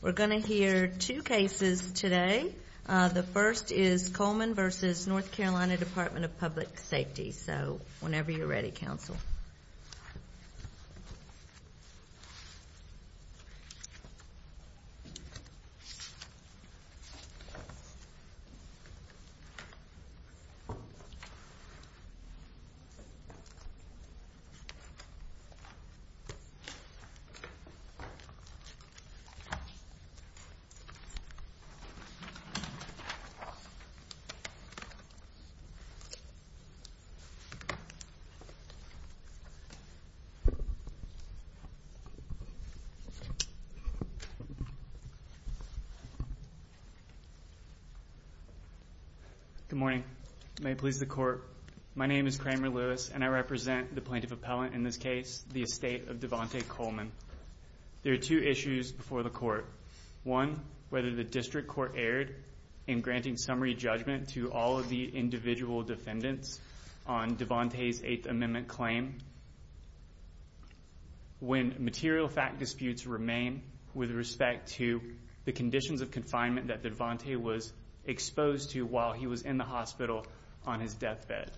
We're going to hear two cases today. The first is Coleman v. North Carolina Department of Public Safety. So whenever you're ready, counsel. Good morning. May it please the Court. My name is Kramer Lewis, and I represent the plaintiff appellant in this case, the estate of Devante Coleman. There are two issues before the Court. One, whether the district court erred in granting summary judgment to all of the individual defendants on Devante's Eighth Amendment claim when material fact disputes remain with respect to the conditions of confinement that Devante was exposed to while he was in the hospital on his deathbed.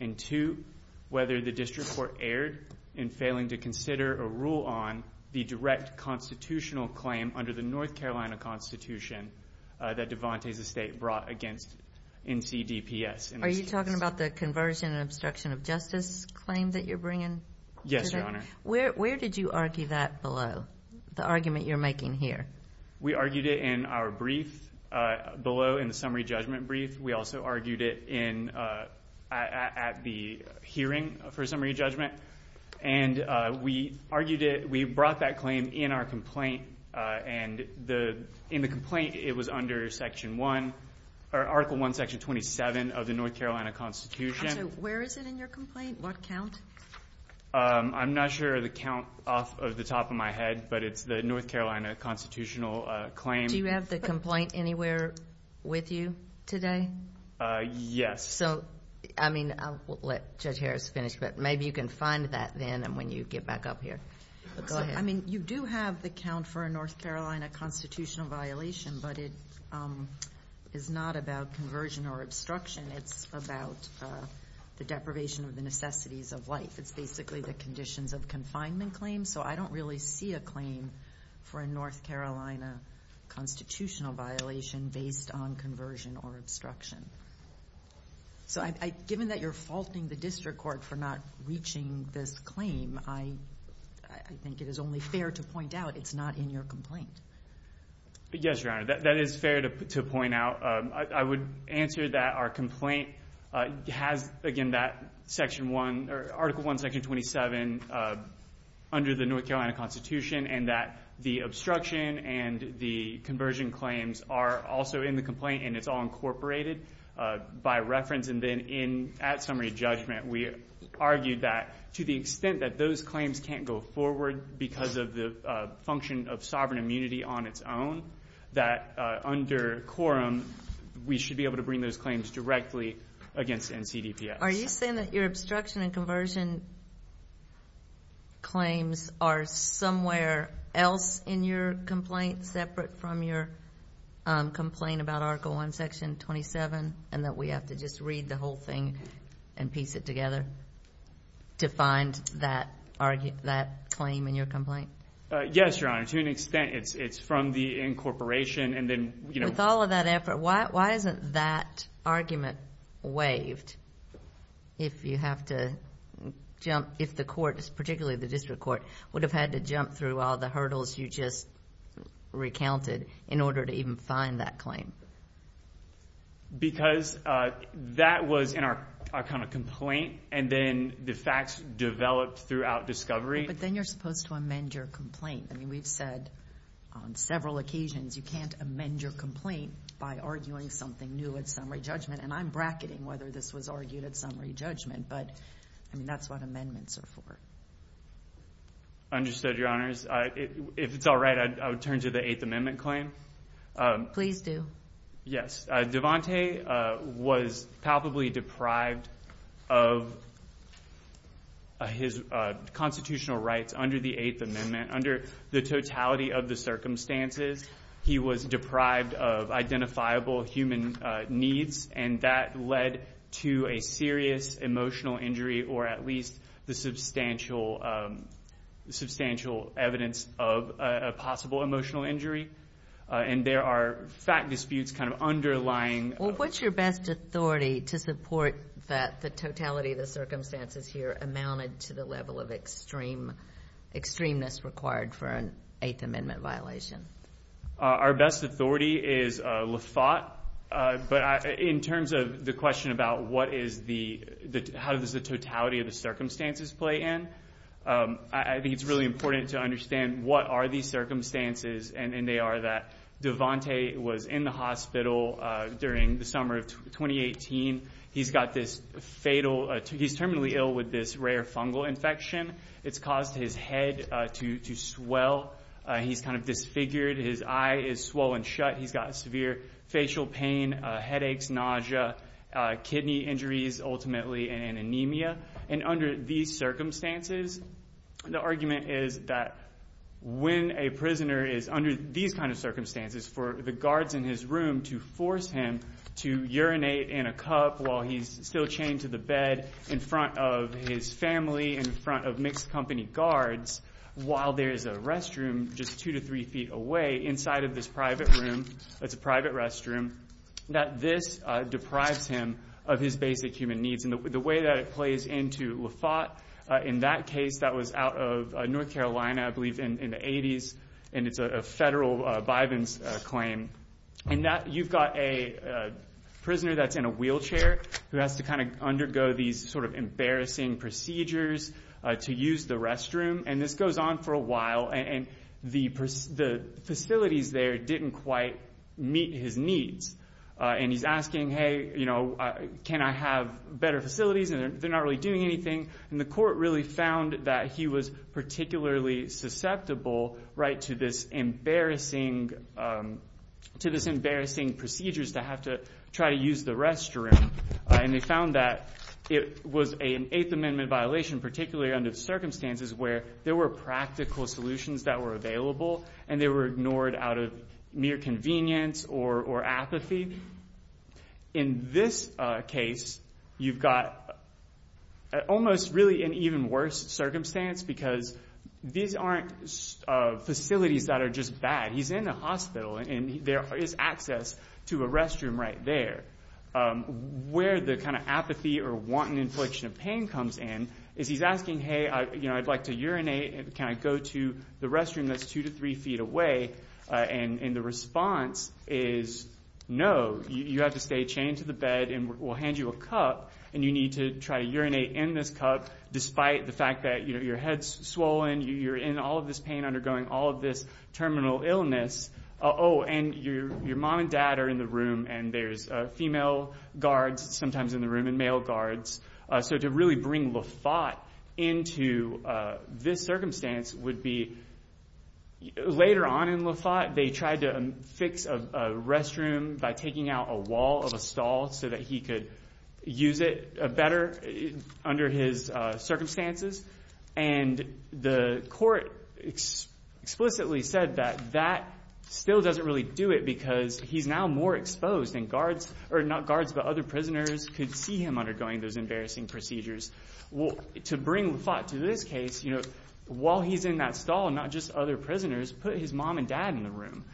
And two, whether the district court erred in failing to consider or rule on the direct constitutional claim under the North Carolina Constitution that Devante's estate brought against NCDPS. Are you talking about the conversion and obstruction of justice claim that you're bringing? Yes, Your Honor. Where did you argue that below, the argument you're making here? We argued it in our brief below in the summary judgment brief. We also argued it at the hearing for summary judgment. And we argued it, we brought that claim in our complaint. And in the complaint, it was under Section 1, or Article 1, Section 27 of the North Carolina Constitution. So where is it in your complaint? What count? I'm not sure of the count off of the top of my head, but it's the North Carolina constitutional claim. Do you have the complaint anywhere with you today? Yes. So, I mean, I'll let Judge Harris finish, but maybe you can find that then when you get back up here. Go ahead. I mean, you do have the count for a North Carolina constitutional violation, but it is not about conversion or obstruction. It's about the deprivation of the necessities of life. It's basically the conditions of confinement claim. So I don't really see a claim for a North Carolina constitutional violation based on conversion or obstruction. So given that you're faulting the district court for not reaching this claim, I think it is only fair to point out it's not in your complaint. Yes, Your Honor. That is fair to point out. I would answer that our complaint has, again, that Article 1, Section 27 under the North Carolina Constitution and that the obstruction and the conversion claims are also in the complaint and it's all incorporated by reference. And then at summary judgment, we argued that to the extent that those claims can't go forward because of the function of sovereign immunity on its own, that under quorum we should be able to bring those claims directly against NCDPS. Are you saying that your obstruction and conversion claims are somewhere else in your complaint, separate from your complaint about Article 1, Section 27, and that we have to just read the whole thing and piece it together to find that claim in your complaint? Yes, Your Honor. To an extent, it's from the incorporation. With all of that effort, why isn't that argument waived if you have to jump, if the court, particularly the district court, would have had to jump through all the hurdles you just recounted in order to even find that claim? Because that was in our complaint, and then the facts developed throughout discovery. But then you're supposed to amend your complaint. I mean, we've said on several occasions you can't amend your complaint by arguing something new at summary judgment, and I'm bracketing whether this was argued at summary judgment, but, I mean, that's what amendments are for. Understood, Your Honors. If it's all right, I would turn to the Eighth Amendment claim. Please do. Yes. Devante was palpably deprived of his constitutional rights under the Eighth Amendment. Under the totality of the circumstances, he was deprived of identifiable human needs, and that led to a serious emotional injury or at least the substantial evidence of a possible emotional injury. And there are fact disputes kind of underlying. Well, what's your best authority to support that the totality of the circumstances here amounted to the level of extremeness required for an Eighth Amendment violation? Our best authority is Lafayette. But in terms of the question about what is the, how does the totality of the circumstances play in, I think it's really important to understand what are these circumstances, and they are that Devante was in the hospital during the summer of 2018. He's got this fatal, he's terminally ill with this rare fungal infection. It's caused his head to swell. He's kind of disfigured. His eye is swollen shut. He's got severe facial pain, headaches, nausea, kidney injuries, ultimately, and anemia. And under these circumstances, the argument is that when a prisoner is under these kind of circumstances, for the guards in his room to force him to urinate in a cup while he's still chained to the bed in front of his family, in front of mixed company guards, while there is a restroom just two to three feet away inside of this private room, it's a private restroom, that this deprives him of his basic human needs. And the way that it plays into Lafotte, in that case, that was out of North Carolina, I believe, in the 80s, and it's a federal bivens claim. And you've got a prisoner that's in a wheelchair who has to kind of undergo these sort of embarrassing procedures to use the restroom. And this goes on for a while, and the facilities there didn't quite meet his needs. And he's asking, hey, you know, can I have better facilities? And they're not really doing anything. And the court really found that he was particularly susceptible, right, to this embarrassing procedures to have to try to use the restroom. And they found that it was an Eighth Amendment violation, particularly under circumstances where there were practical solutions that were available, and they were ignored out of mere convenience or apathy. In this case, you've got almost really an even worse circumstance because these aren't facilities that are just bad. He's in a hospital, and there is access to a restroom right there. Where the kind of apathy or wanton infliction of pain comes in is he's asking, hey, you know, I'd like to urinate. Can I go to the restroom that's two to three feet away? And the response is no. You have to stay chained to the bed, and we'll hand you a cup, and you need to try to urinate in this cup despite the fact that, you know, your head's swollen. You're in all of this pain, undergoing all of this terminal illness. Oh, and your mom and dad are in the room, and there's female guards sometimes in the room and male guards. So to really bring Lafaut into this circumstance would be later on in Lafaut, they tried to fix a restroom by taking out a wall of a stall so that he could use it better under his circumstances. And the court explicitly said that that still doesn't really do it because he's now more exposed, and guards or not guards but other prisoners could see him undergoing those embarrassing procedures. To bring Lafaut to this case, you know, while he's in that stall, not just other prisoners, put his mom and dad in the room,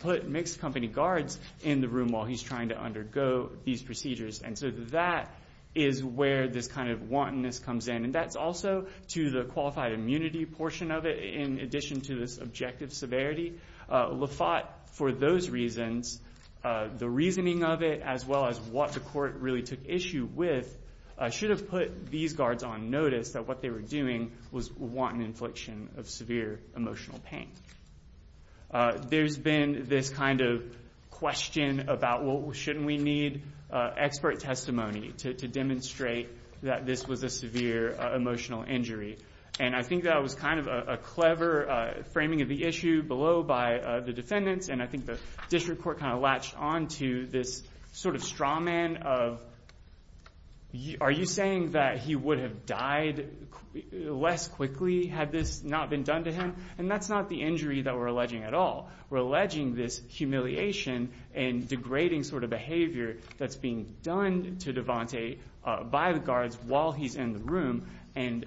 put mixed company guards in the room while he's trying to undergo these procedures. And so that is where this kind of wantonness comes in, and that's also to the qualified immunity portion of it in addition to this objective severity. Lafaut, for those reasons, the reasoning of it as well as what the court really took issue with, should have put these guards on notice that what they were doing was wanton infliction of severe emotional pain. There's been this kind of question about, well, shouldn't we need expert testimony to demonstrate that this was a severe emotional injury? And I think that was kind of a clever framing of the issue below by the defendants, and I think the district court kind of latched on to this sort of straw man of, are you saying that he would have died less quickly had this not been done to him? And that's not the injury that we're alleging at all. We're alleging this humiliation and degrading sort of behavior that's being done to Devante by the guards while he's in the room, and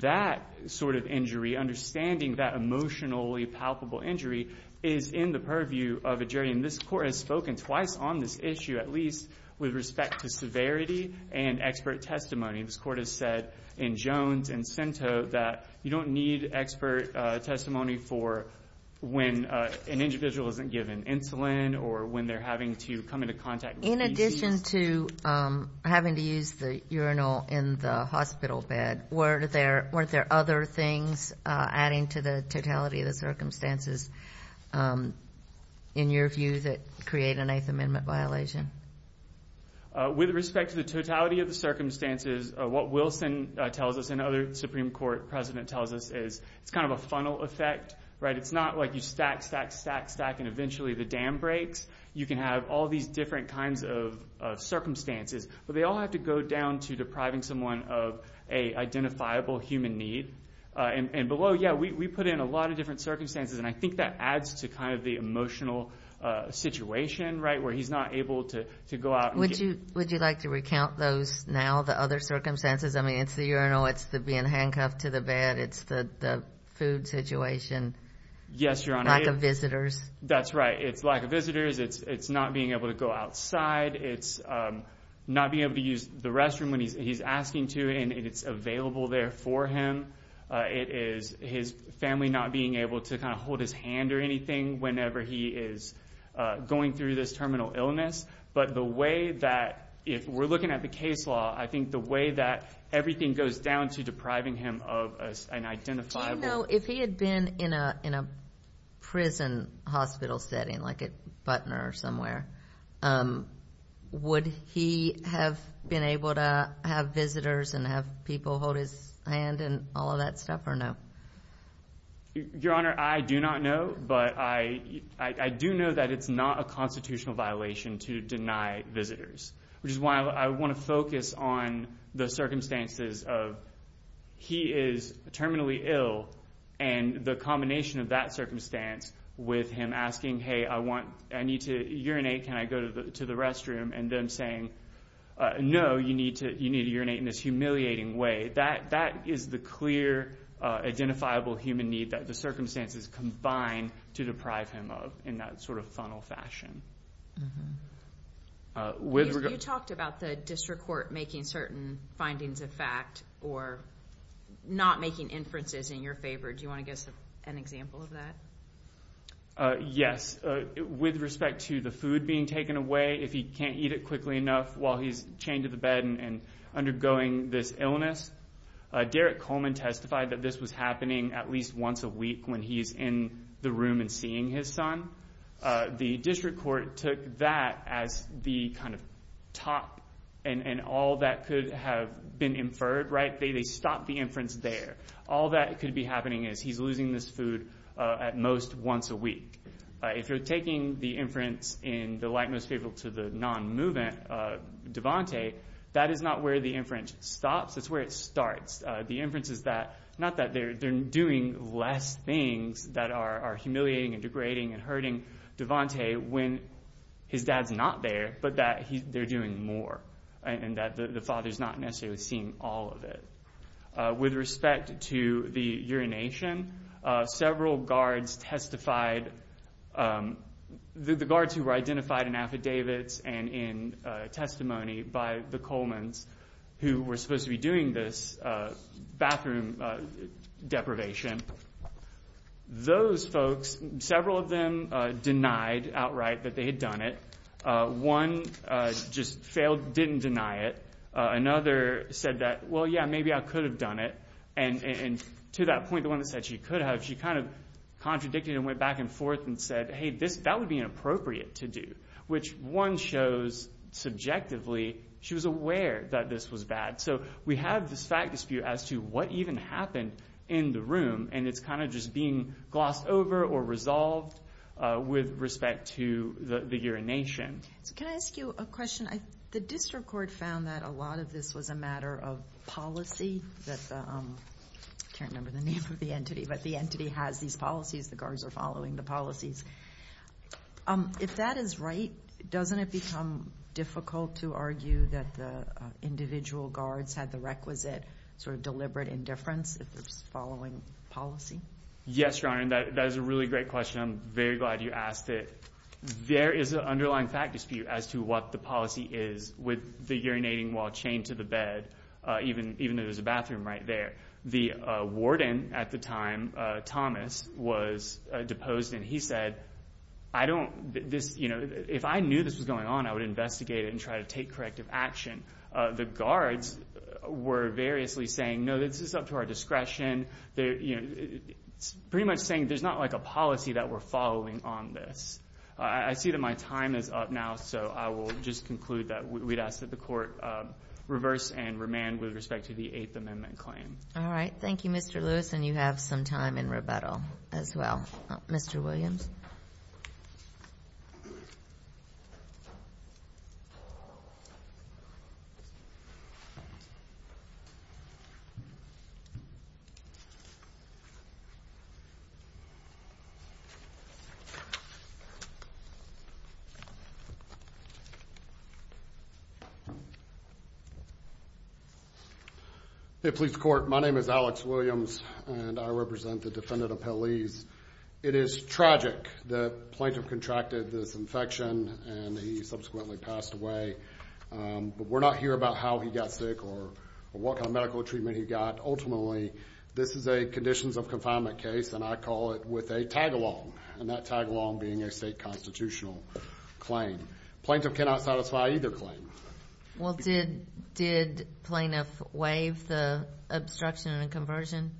that sort of injury, understanding that emotionally palpable injury, is in the purview of a jury. And this court has spoken twice on this issue, at least with respect to severity and expert testimony. This court has said in Jones and Cento that you don't need expert testimony for when an individual isn't given insulin or when they're having to come into contact with DCs. In addition to having to use the urinal in the hospital bed, weren't there other things adding to the totality of the circumstances, in your view, that create a Ninth Amendment violation? With respect to the totality of the circumstances, what Wilson tells us and other Supreme Court president tells us is it's kind of a funnel effect, right? It's not like you stack, stack, stack, stack, and eventually the dam breaks. You can have all these different kinds of circumstances, but they all have to go down to depriving someone of an identifiable human need. And below, yeah, we put in a lot of different circumstances, and I think that adds to kind of the emotional situation, right, where he's not able to go out. Would you like to recount those now, the other circumstances? I mean, it's the urinal. It's being handcuffed to the bed. It's the food situation. Yes, Your Honor. Lack of visitors. That's right. It's lack of visitors. It's not being able to go outside. It's not being able to use the restroom when he's asking to, and it's available there for him. It is his family not being able to kind of hold his hand or anything whenever he is going through this terminal illness. But the way that if we're looking at the case law, I think the way that everything goes down to depriving him of an identifiable— Do you know if he had been in a prison hospital setting, like at Butner or somewhere, would he have been able to have visitors and have people hold his hand and all of that stuff or no? Your Honor, I do not know, but I do know that it's not a constitutional violation to deny visitors, which is why I want to focus on the circumstances of he is terminally ill and the combination of that circumstance with him asking, hey, I need to urinate. Can I go to the restroom? And them saying, no, you need to urinate in this humiliating way. That is the clear identifiable human need that the circumstances combine to deprive him of in that sort of funnel fashion. You talked about the district court making certain findings of fact or not making inferences in your favor. Do you want to give us an example of that? Yes. With respect to the food being taken away, if he can't eat it quickly enough while he's chained to the bed and undergoing this illness, Derek Coleman testified that this was happening at least once a week when he's in the room and seeing his son. The district court took that as the kind of top and all that could have been inferred. They stopped the inference there. All that could be happening is he's losing this food at most once a week. If you're taking the inference in the light most favorable to the non-movement, Devante, that is not where the inference stops. It's where it starts. The inference is not that they're doing less things that are humiliating and degrading and hurting Devante when his dad's not there, but that they're doing more and that the father's not necessarily seeing all of it. With respect to the urination, several guards testified. The guards who were identified in affidavits and in testimony by the Coleman's who were supposed to be doing this bathroom deprivation, those folks, several of them denied outright that they had done it. One just failed, didn't deny it. Another said that, well, yeah, maybe I could have done it. To that point, the one that said she could have, she kind of contradicted and went back and forth and said, hey, that would be inappropriate to do, which one shows subjectively she was aware that this was bad. We have this fact dispute as to what even happened in the room, and it's kind of just being glossed over or resolved with respect to the urination. Can I ask you a question? The district court found that a lot of this was a matter of policy. I can't remember the name of the entity, but the entity has these policies. The guards are following the policies. If that is right, doesn't it become difficult to argue that the individual guards had the requisite sort of deliberate indifference if they're following policy? Yes, Your Honor, and that is a really great question. I'm very glad you asked it. There is an underlying fact dispute as to what the policy is with the urinating while chained to the bed, even though there's a bathroom right there. The warden at the time, Thomas, was deposed, and he said, if I knew this was going on, I would investigate it and try to take corrective action. The guards were variously saying, no, this is up to our discretion. It's pretty much saying there's not a policy that we're following on this. I see that my time is up now, so I will just conclude that we'd ask that the court reverse and remand with respect to the Eighth Amendment claim. All right. Thank you, Mr. Lewis, and you have some time in rebuttal as well. Mr. Williams? Hey, police court, my name is Alex Williams, and I represent the defendant appellees. It is tragic. The plaintiff contracted this infection, and he subsequently passed away. But we're not here about how he got sick or what kind of medical treatment he got. Ultimately, this is a conditions of confinement case, and I call it with a tag-along, and that tag-along being a state constitutional claim. Plaintiff cannot satisfy either claim. Well, did plaintiff waive the obstruction and conversion?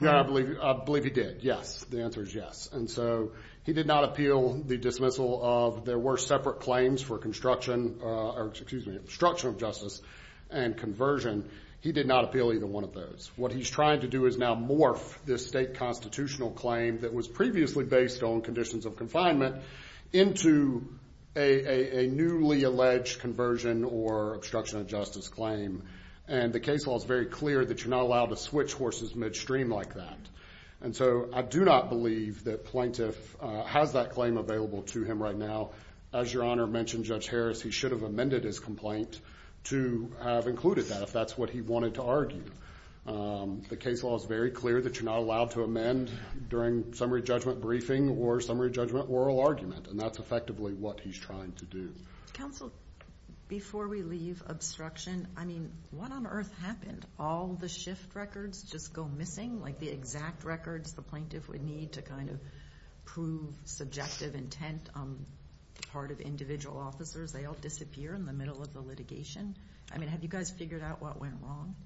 No, I believe he did, yes. The answer is yes. And so he did not appeal the dismissal of there were separate claims for obstruction of justice and conversion. He did not appeal either one of those. What he's trying to do is now morph this state constitutional claim that was previously based on conditions of confinement into a newly alleged conversion or obstruction of justice claim. And the case law is very clear that you're not allowed to switch horses midstream like that. And so I do not believe that plaintiff has that claim available to him right now. As Your Honor mentioned, Judge Harris, he should have amended his complaint to have included that, if that's what he wanted to argue. The case law is very clear that you're not allowed to amend during summary judgment briefing or summary judgment oral argument, and that's effectively what he's trying to do. Counsel, before we leave obstruction, I mean, what on earth happened? All the shift records just go missing? Like the exact records the plaintiff would need to kind of prove subjective intent on the part of individual officers, they all disappear in the middle of the litigation? I mean, have you guys figured out what went wrong?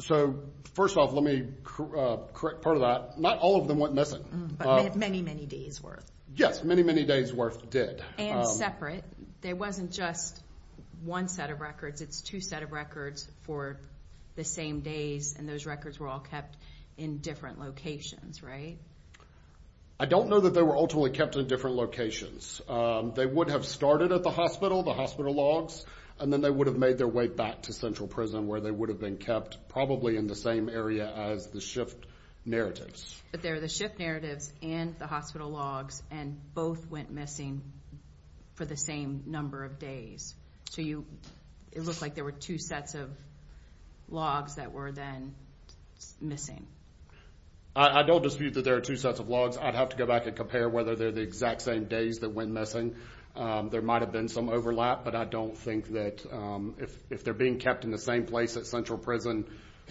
So, first off, let me correct part of that. Not all of them went missing. But many, many days' worth. Yes, many, many days' worth did. And separate. But there wasn't just one set of records. It's two set of records for the same days, and those records were all kept in different locations, right? I don't know that they were ultimately kept in different locations. They would have started at the hospital, the hospital logs, and then they would have made their way back to central prison where they would have been kept, probably in the same area as the shift narratives. But there are the shift narratives and the hospital logs, and both went missing for the same number of days. So, it looked like there were two sets of logs that were then missing. I don't dispute that there are two sets of logs. I'd have to go back and compare whether they're the exact same days that went missing. There might have been some overlap, but I don't think that if they're being kept in the same place at central prison,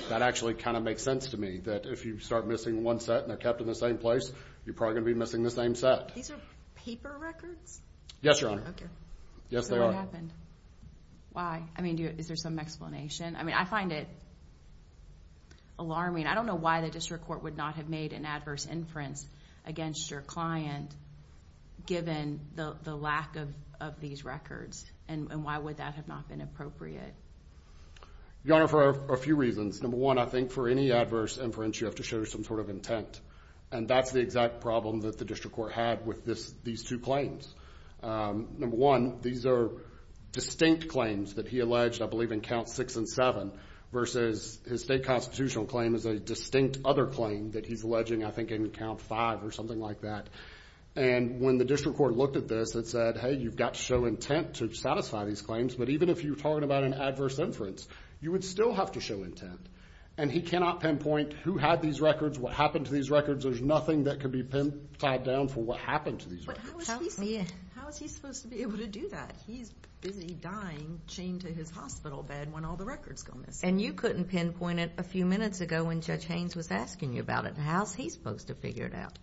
that actually kind of makes sense to me, that if you start missing one set and they're kept in the same place, you're probably going to be missing the same set. These are paper records? Yes, Your Honor. Okay. Yes, they are. So, what happened? Why? I mean, is there some explanation? I mean, I find it alarming. I don't know why the district court would not have made an adverse inference against your client, given the lack of these records, and why would that have not been appropriate? Your Honor, for a few reasons. Number one, I think for any adverse inference, you have to show some sort of intent. And that's the exact problem that the district court had with these two claims. Number one, these are distinct claims that he alleged, I believe, in counts six and seven, versus his state constitutional claim is a distinct other claim that he's alleging, I think, in count five or something like that. And when the district court looked at this, it said, hey, you've got to show intent to satisfy these claims. But even if you're talking about an adverse inference, you would still have to show intent. And he cannot pinpoint who had these records, what happened to these records. There's nothing that can be tied down for what happened to these records. How is he supposed to be able to do that? He's busy dying, chained to his hospital bed when all the records go missing. And you couldn't pinpoint it a few minutes ago when Judge Haynes was asking you about it. How is he supposed to figure it out?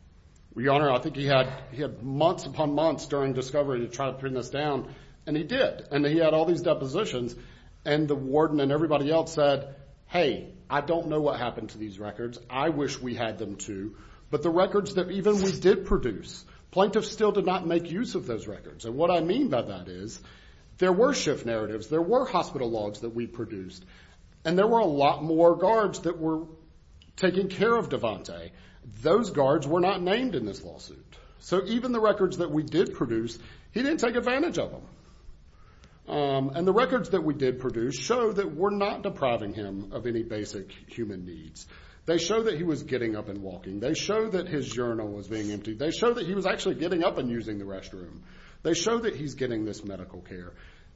Your Honor, I think he had months upon months during discovery to try to pin this down, and he did. And he had all these depositions. And the warden and everybody else said, hey, I don't know what happened to these records. I wish we had them too. But the records that even we did produce, plaintiffs still did not make use of those records. And what I mean by that is there were shift narratives. There were hospital logs that we produced. And there were a lot more guards that were taking care of Devante. Those guards were not named in this lawsuit. So even the records that we did produce, he didn't take advantage of them. And the records that we did produce show that we're not depriving him of any basic human needs. They show that he was getting up and walking. They show that his urinal was being emptied. They show that he was actually getting up and using the restroom. They show that he's getting this medical care.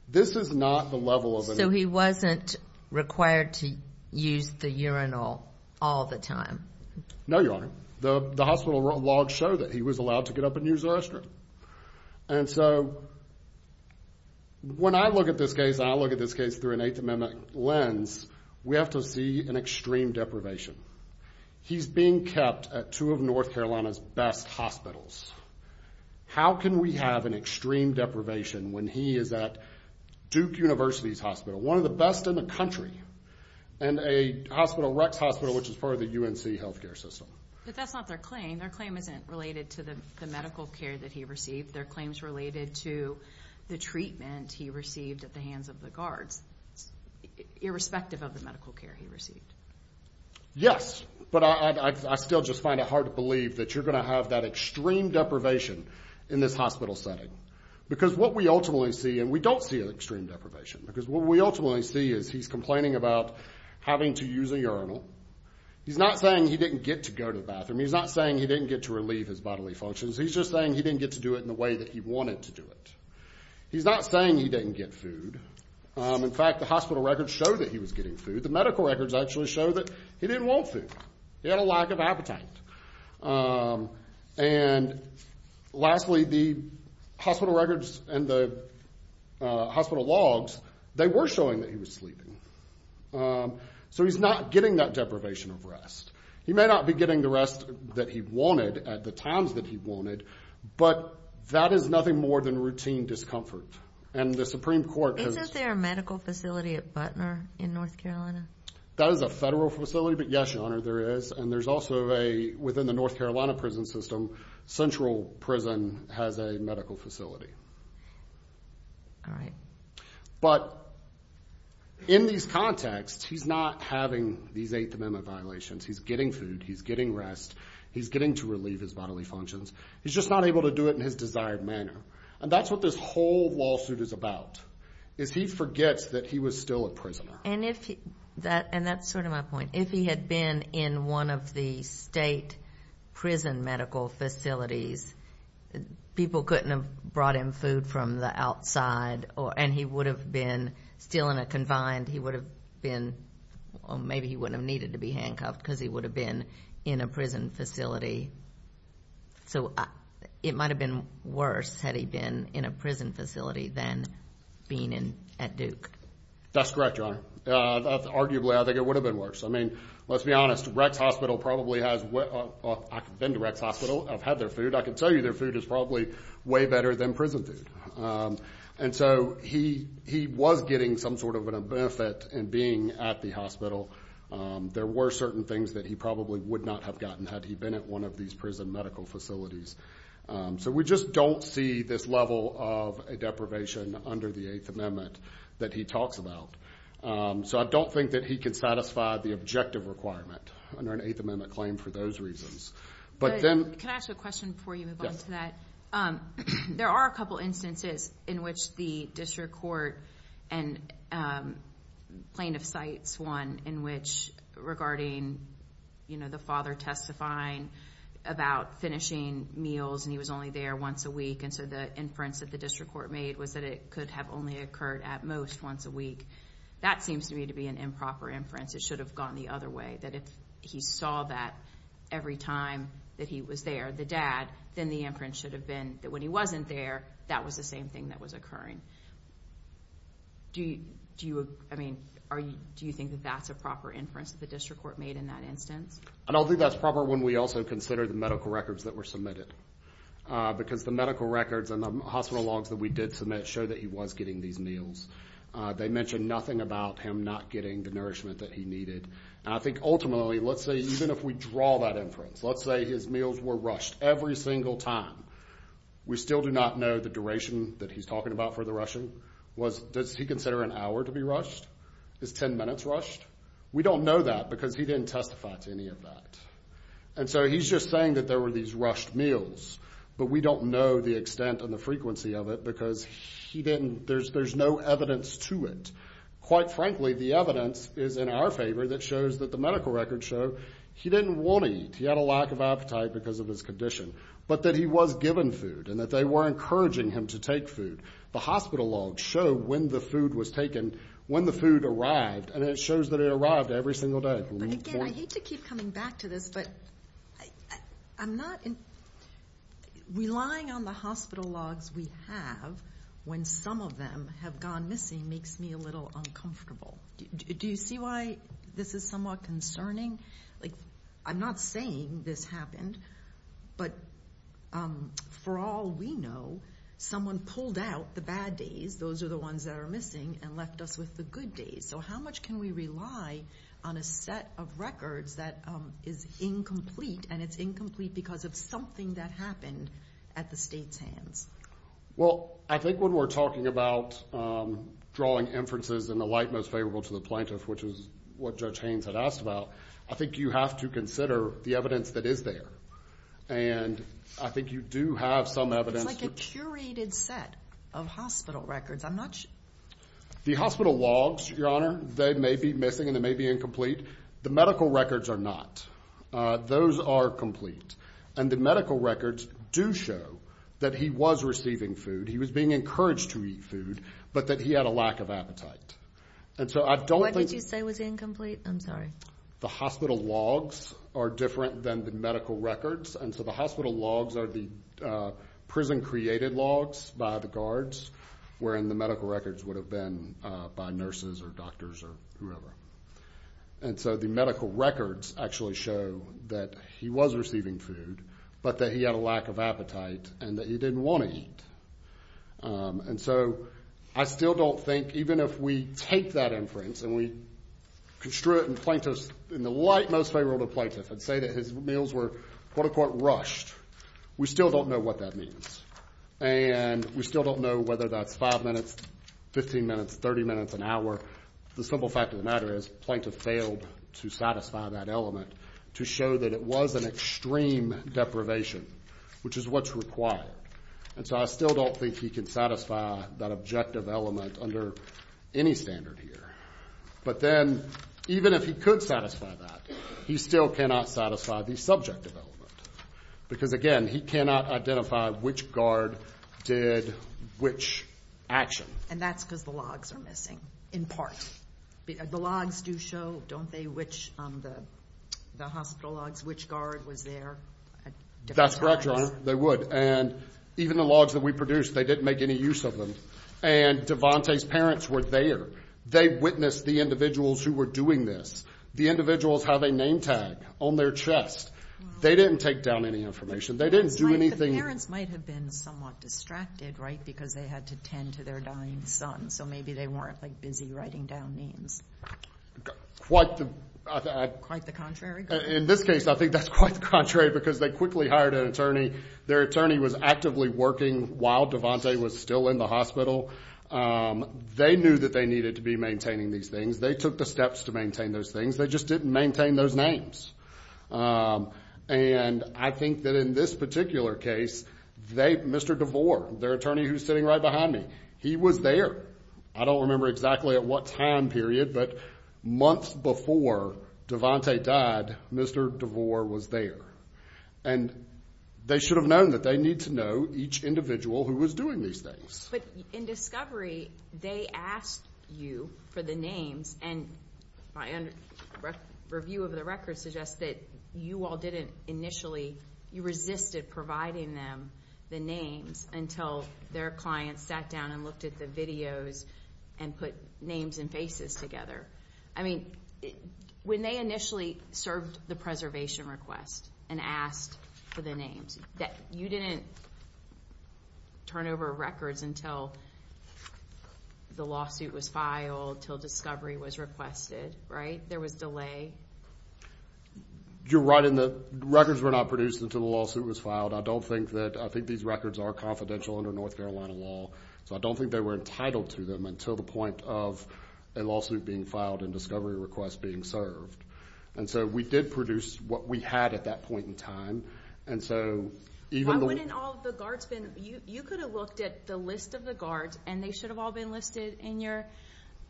This is not the level of an— So he wasn't required to use the urinal all the time? No, Your Honor. The hospital logs show that he was allowed to get up and use the restroom. And so when I look at this case and I look at this case through an Eighth Amendment lens, we have to see an extreme deprivation. He's being kept at two of North Carolina's best hospitals. How can we have an extreme deprivation when he is at Duke University's hospital, one of the best in the country, and a hospital, Rex Hospital, which is part of the UNC healthcare system? But that's not their claim. Their claim isn't related to the medical care that he received. Their claim is related to the treatment he received at the hands of the guards, irrespective of the medical care he received. Yes, but I still just find it hard to believe that you're going to have that extreme deprivation in this hospital setting. Because what we ultimately see, and we don't see an extreme deprivation, because what we ultimately see is he's complaining about having to use a urinal. He's not saying he didn't get to go to the bathroom. He's not saying he didn't get to relieve his bodily functions. He's just saying he didn't get to do it in the way that he wanted to do it. He's not saying he didn't get food. In fact, the hospital records show that he was getting food. The medical records actually show that he didn't want food. He had a lack of appetite. And lastly, the hospital records and the hospital logs, they were showing that he was sleeping. So he's not getting that deprivation of rest. He may not be getting the rest that he wanted at the times that he wanted, but that is nothing more than routine discomfort. And the Supreme Court has— Isn't there a medical facility at Butner in North Carolina? That is a federal facility, but yes, Your Honor, there is. And there's also a—within the North Carolina prison system, central prison has a medical facility. All right. But in these contexts, he's not having these Eighth Amendment violations. He's getting food. He's getting rest. He's getting to relieve his bodily functions. He's just not able to do it in his desired manner. And that's what this whole lawsuit is about, is he forgets that he was still a prisoner. And if he—and that's sort of my point. If he had been in one of the state prison medical facilities, people couldn't have brought him food from the outside, and he would have been still in a confined—he would have been— or maybe he wouldn't have needed to be handcuffed because he would have been in a prison facility. So it might have been worse had he been in a prison facility than being at Duke. That's correct, Your Honor. Arguably, I think it would have been worse. I mean, let's be honest. Rex Hospital probably has—I've been to Rex Hospital. I've had their food. I can tell you their food is probably way better than prison food. And so he was getting some sort of a benefit in being at the hospital. There were certain things that he probably would not have gotten had he been at one of these prison medical facilities. So we just don't see this level of deprivation under the Eighth Amendment that he talks about. So I don't think that he could satisfy the objective requirement under an Eighth Amendment claim for those reasons. But then— Can I ask a question before you move on to that? Yes. There are a couple instances in which the district court and plaintiff cites one in which regarding, you know, the father testifying about finishing meals and he was only there once a week. And so the inference that the district court made was that it could have only occurred at most once a week. That seems to me to be an improper inference. It should have gone the other way, that if he saw that every time that he was there, the dad, then the inference should have been that when he wasn't there, that was the same thing that was occurring. Do you—I mean, do you think that that's a proper inference that the district court made in that instance? I don't think that's proper when we also consider the medical records that were submitted. Because the medical records and the hospital logs that we did submit show that he was getting these meals. They mention nothing about him not getting the nourishment that he needed. And I think ultimately, let's say even if we draw that inference, let's say his meals were rushed every single time, we still do not know the duration that he's talking about for the rushing. Does he consider an hour to be rushed? Is 10 minutes rushed? We don't know that because he didn't testify to any of that. And so he's just saying that there were these rushed meals. But we don't know the extent and the frequency of it because he didn't—there's no evidence to it. Quite frankly, the evidence is in our favor that shows that the medical records show he didn't want to eat. He had a lack of appetite because of his condition. But that he was given food and that they were encouraging him to take food. The hospital logs show when the food was taken, when the food arrived, and it shows that it arrived every single day. But again, I hate to keep coming back to this, but I'm not— relying on the hospital logs we have when some of them have gone missing makes me a little uncomfortable. Do you see why this is somewhat concerning? I'm not saying this happened, but for all we know, someone pulled out the bad days, those are the ones that are missing, and left us with the good days. So how much can we rely on a set of records that is incomplete, and it's incomplete because of something that happened at the state's hands? Well, I think when we're talking about drawing inferences in the light most favorable to the plaintiff, which is what Judge Haynes had asked about, I think you have to consider the evidence that is there. And I think you do have some evidence— It's like a curated set of hospital records. I'm not— The hospital logs, Your Honor, they may be missing and they may be incomplete. The medical records are not. Those are complete. And the medical records do show that he was receiving food. He was being encouraged to eat food, but that he had a lack of appetite. And so I don't think— What did you say was incomplete? I'm sorry. The hospital logs are different than the medical records, and so the hospital logs are the prison-created logs by the guards, wherein the medical records would have been by nurses or doctors or whoever. And so the medical records actually show that he was receiving food, but that he had a lack of appetite and that he didn't want to eat. And so I still don't think, even if we take that inference and we construe it in the light most favorable to the plaintiff and say that his meals were, quote-unquote, rushed, we still don't know what that means. And we still don't know whether that's five minutes, 15 minutes, 30 minutes, an hour. The simple fact of the matter is the plaintiff failed to satisfy that element to show that it was an extreme deprivation, which is what's required. And so I still don't think he can satisfy that objective element under any standard here. But then, even if he could satisfy that, he still cannot satisfy the subjective element. Because, again, he cannot identify which guard did which action. And that's because the logs are missing, in part. The logs do show, don't they, which the hospital logs, which guard was there? That's correct, Your Honor. They would. And even the logs that we produced, they didn't make any use of them. And Devante's parents were there. They witnessed the individuals who were doing this. The individuals have a name tag on their chest. They didn't take down any information. They didn't do anything. The parents might have been somewhat distracted, right, because they had to tend to their dying son. So maybe they weren't, like, busy writing down names. Quite the contrary. In this case, I think that's quite the contrary because they quickly hired an attorney. Their attorney was actively working while Devante was still in the hospital. They knew that they needed to be maintaining these things. They took the steps to maintain those things. They just didn't maintain those names. And I think that in this particular case, Mr. DeVore, their attorney who's sitting right behind me, he was there. I don't remember exactly at what time period, but months before Devante died, Mr. DeVore was there. And they should have known that they need to know each individual who was doing these things. But in discovery, they asked you for the names. And my review of the records suggests that you all didn't initially, you resisted providing them the names until their client sat down and looked at the videos and put names and faces together. I mean, when they initially served the preservation request and asked for the names, you didn't turn over records until the lawsuit was filed, until discovery was requested, right? There was delay? You're right in the records were not produced until the lawsuit was filed. I don't think that, I think these records are confidential under North Carolina law. So I don't think they were entitled to them until the point of a lawsuit being filed and discovery request being served. And so we did produce what we had at that point in time. Why wouldn't all the guards been, you could have looked at the list of the guards and they should have all been listed in your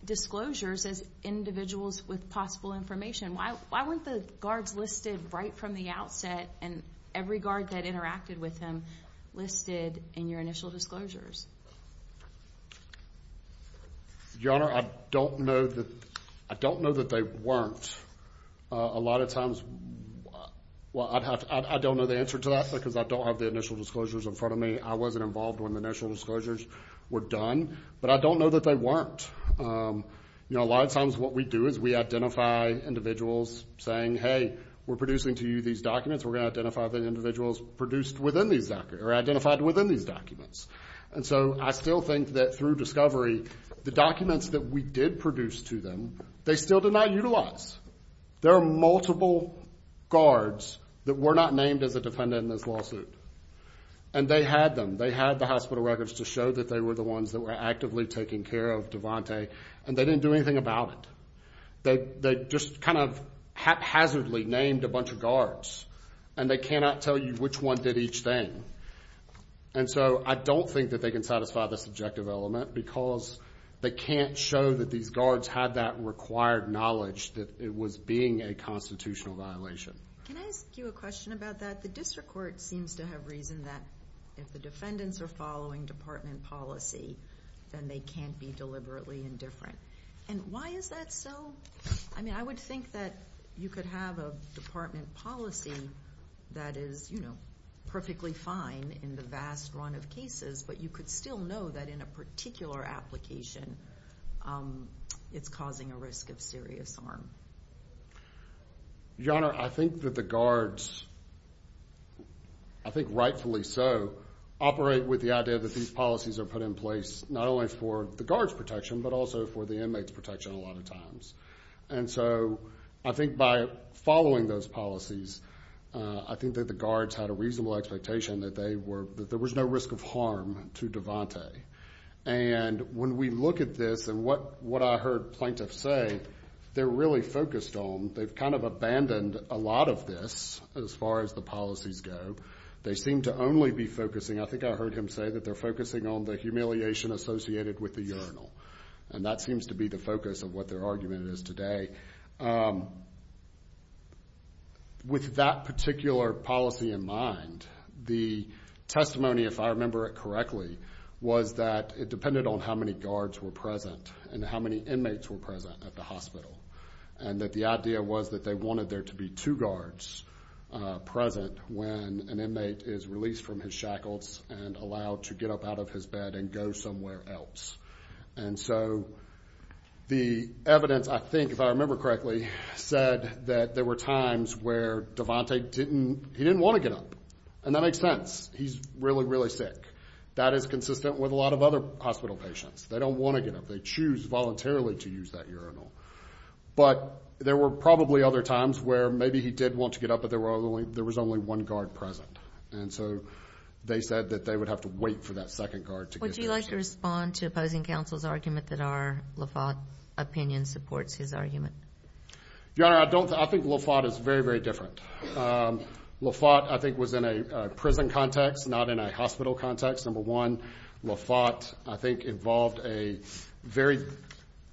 disclosures as individuals with possible information. Why weren't the guards listed right from the outset and every guard that interacted with them listed in your initial disclosures? Your Honor, I don't know that they weren't. A lot of times, well, I don't know the answer to that because I don't have the initial disclosures in front of me. I wasn't involved when the initial disclosures were done. But I don't know that they weren't. You know, a lot of times what we do is we identify individuals saying, hey, we're producing to you these documents. We're going to identify the individuals produced within these documents or identified within these documents. And so I still think that through discovery, the documents that we did produce to them, they still did not utilize. There are multiple guards that were not named as a defendant in this lawsuit. And they had them. They had the hospital records to show that they were the ones that were actively taking care of Devante. And they didn't do anything about it. They just kind of haphazardly named a bunch of guards. And they cannot tell you which one did each thing. And so I don't think that they can satisfy this objective element because they can't show that these guards had that required knowledge that it was being a constitutional violation. Can I ask you a question about that? The district court seems to have reason that if the defendants are following department policy, then they can't be deliberately indifferent. And why is that so? I mean, I would think that you could have a department policy that is, you know, perfectly fine in the vast run of cases. But you could still know that in a particular application, it's causing a risk of serious harm. Your Honor, I think that the guards, I think rightfully so, operate with the idea that these policies are put in place not only for the guards' protection, but also for the inmates' protection a lot of times. And so I think by following those policies, I think that the guards had a reasonable expectation that there was no risk of harm to Devante. And when we look at this and what I heard plaintiffs say, they're really focused on, they've kind of abandoned a lot of this as far as the policies go. They seem to only be focusing, I think I heard him say that they're focusing on the humiliation associated with the urinal. And that seems to be the focus of what their argument is today. With that particular policy in mind, the testimony, if I remember it correctly, was that it depended on how many guards were present and how many inmates were present at the hospital. And that the idea was that they wanted there to be two guards present when an inmate is released from his shackles and allowed to get up out of his bed and go somewhere else. And so the evidence, I think, if I remember correctly, said that there were times where Devante didn't, he didn't want to get up. And that makes sense. He's really, really sick. That is consistent with a lot of other hospital patients. They don't want to get up. They choose voluntarily to use that urinal. But there were probably other times where maybe he did want to get up, but there was only one guard present. And so they said that they would have to wait for that second guard to get up. Would you like to respond to opposing counsel's argument that our LaFont opinion supports his argument? Your Honor, I don't. I think LaFont is very, very different. LaFont, I think, was in a prison context, not in a hospital context. Number one, LaFont, I think, involved a very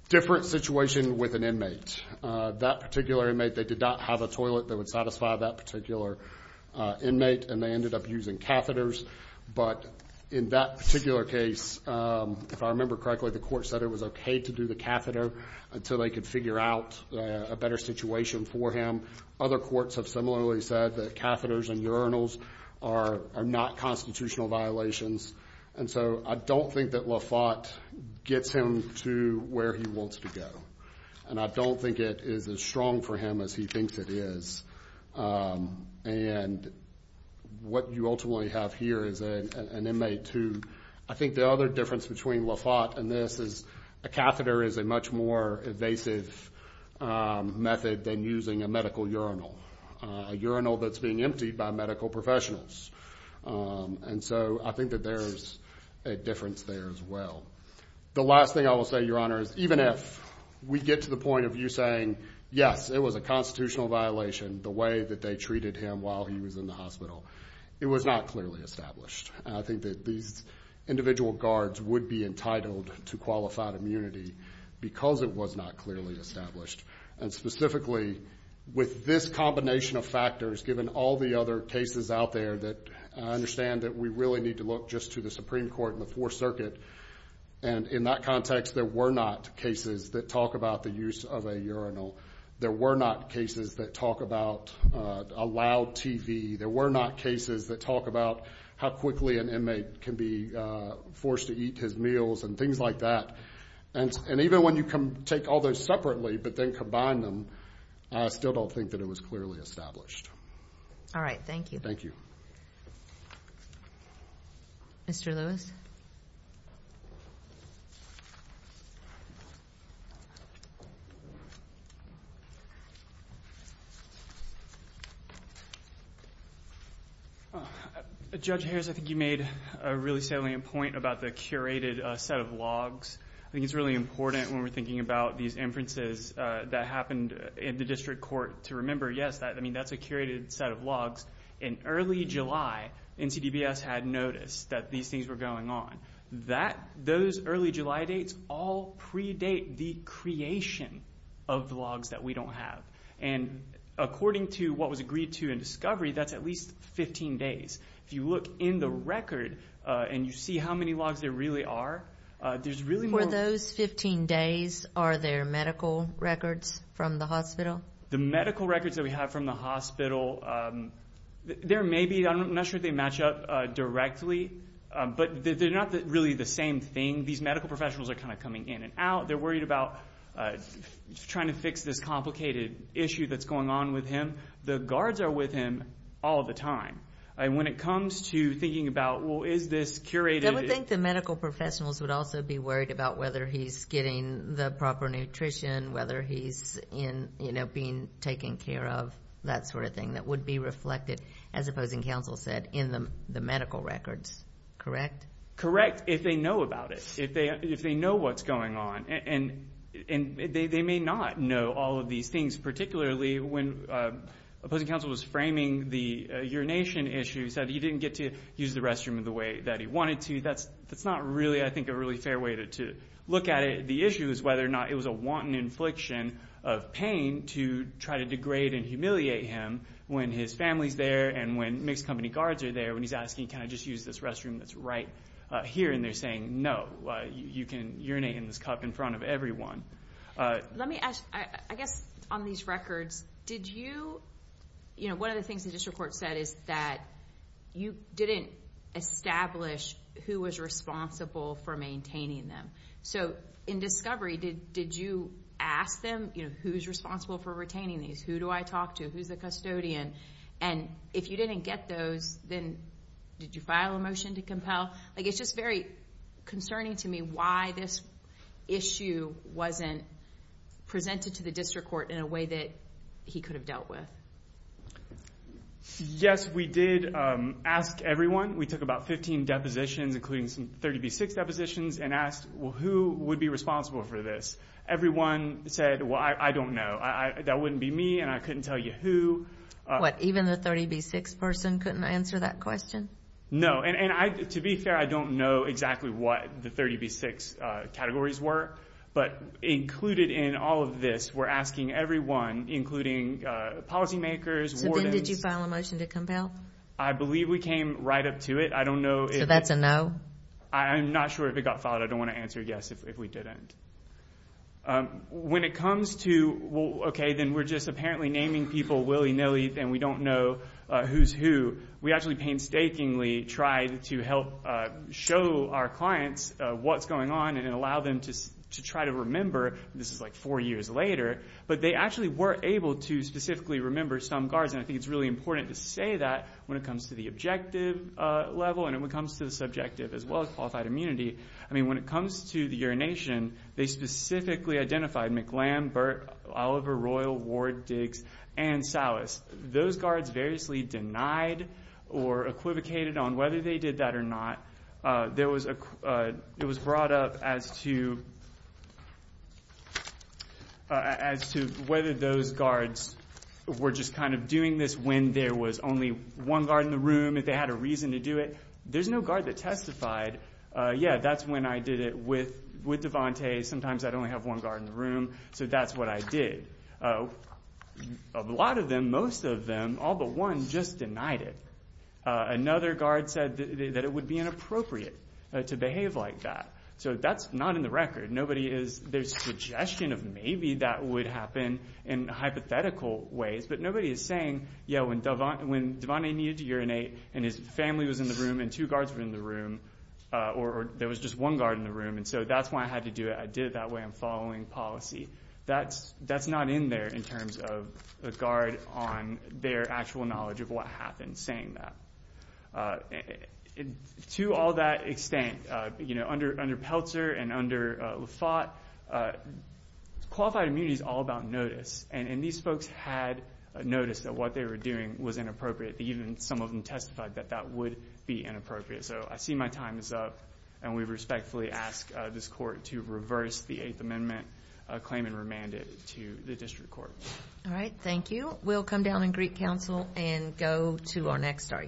different situation with an inmate. That particular inmate, they did not have a toilet that would satisfy that particular inmate, and they ended up using catheters. But in that particular case, if I remember correctly, the court said it was okay to do the catheter until they could figure out a better situation for him. Other courts have similarly said that catheters and urinals are not constitutional violations. And so I don't think that LaFont gets him to where he wants to go. And I don't think it is as strong for him as he thinks it is. And what you ultimately have here is an inmate who I think the other difference between LaFont and this is a catheter is a much more evasive method than using a medical urinal, a urinal that's being emptied by medical professionals. And so I think that there is a difference there as well. The last thing I will say, Your Honor, is even if we get to the point of you saying, yes, it was a constitutional violation the way that they treated him while he was in the hospital, it was not clearly established. And I think that these individual guards would be entitled to qualified immunity because it was not clearly established. And specifically, with this combination of factors, given all the other cases out there, that I understand that we really need to look just to the Supreme Court and the Fourth Circuit. And in that context, there were not cases that talk about the use of a urinal. There were not cases that talk about a loud TV. There were not cases that talk about how quickly an inmate can be forced to eat his meals and things like that. And even when you take all those separately but then combine them, I still don't think that it was clearly established. All right. Thank you. Thank you. Mr. Lewis. Judge Harris, I think you made a really salient point about the curated set of logs. I think it's really important when we're thinking about these inferences that happened in the district court to remember, yes, I mean that's a curated set of logs. In early July, NCDBS had noticed that these things were going on. Those early July dates all predate the creation of the logs that we don't have. And according to what was agreed to in discovery, that's at least 15 days. If you look in the record and you see how many logs there really are, there's really more. For those 15 days, are there medical records from the hospital? The medical records that we have from the hospital, there may be. I'm not sure if they match up directly. But they're not really the same thing. These medical professionals are kind of coming in and out. They're worried about trying to fix this complicated issue that's going on with him. The guards are with him all the time. And when it comes to thinking about, well, is this curated? I would think the medical professionals would also be worried about whether he's getting the proper nutrition, whether he's being taken care of, that sort of thing, that would be reflected, as opposing counsel said, in the medical records, correct? Correct, if they know about it, if they know what's going on. And they may not know all of these things, particularly when opposing counsel was framing the urination issue. He said he didn't get to use the restroom in the way that he wanted to. That's not really, I think, a really fair way to look at it. The issue is whether or not it was a wanton infliction of pain to try to degrade and humiliate him when his family's there and when mixed company guards are there, when he's asking, can I just use this restroom that's right here, and they're saying, no, you can urinate in this cup in front of everyone. Let me ask, I guess on these records, did you, you know, one of the things the district court said is that you didn't establish who was responsible for maintaining them. So in discovery, did you ask them, you know, who's responsible for retaining these? Who do I talk to? Who's the custodian? And if you didn't get those, then did you file a motion to compel? Like it's just very concerning to me why this issue wasn't presented to the district court in a way that he could have dealt with. Yes, we did ask everyone. We took about 15 depositions, including some 30B6 depositions, and asked, well, who would be responsible for this? Everyone said, well, I don't know. That wouldn't be me, and I couldn't tell you who. What, even the 30B6 person couldn't answer that question? No, and to be fair, I don't know exactly what the 30B6 categories were. But included in all of this, we're asking everyone, including policymakers, wardens. So then did you file a motion to compel? I believe we came right up to it. I don't know. So that's a no? I'm not sure if it got filed. I don't want to answer yes if we didn't. When it comes to, okay, then we're just apparently naming people willy-nilly, and we don't know who's who, we actually painstakingly tried to help show our clients what's going on and allow them to try to remember this is like four years later. But they actually were able to specifically remember some guards, and I think it's really important to say that when it comes to the objective level and when it comes to the subjective as well as qualified immunity. I mean, when it comes to the urination, they specifically identified McLam, Burt, Oliver, Royal, Ward, Diggs, and Salas. Those guards variously denied or equivocated on whether they did that or not. It was brought up as to whether those guards were just kind of doing this when there was only one guard in the room, if they had a reason to do it. There's no guard that testified, yeah, that's when I did it with Devante. Sometimes I'd only have one guard in the room, so that's what I did. A lot of them, most of them, all but one, just denied it. Another guard said that it would be inappropriate to behave like that. So that's not in the record. There's suggestion of maybe that would happen in hypothetical ways, but nobody is saying, yeah, when Devante needed to urinate and his family was in the room and two guards were in the room or there was just one guard in the room, and so that's why I had to do it. I did it that way. I'm following policy. That's not in there in terms of a guard on their actual knowledge of what happened saying that. To all that extent, you know, under Peltzer and under LaForte, qualified immunity is all about notice, and these folks had noticed that what they were doing was inappropriate. Even some of them testified that that would be inappropriate. So I see my time is up, and we respectfully ask this court to reverse the Eighth Amendment claim and remand it to the district court. All right. Thank you. We'll come down and greet counsel and go to our next argument.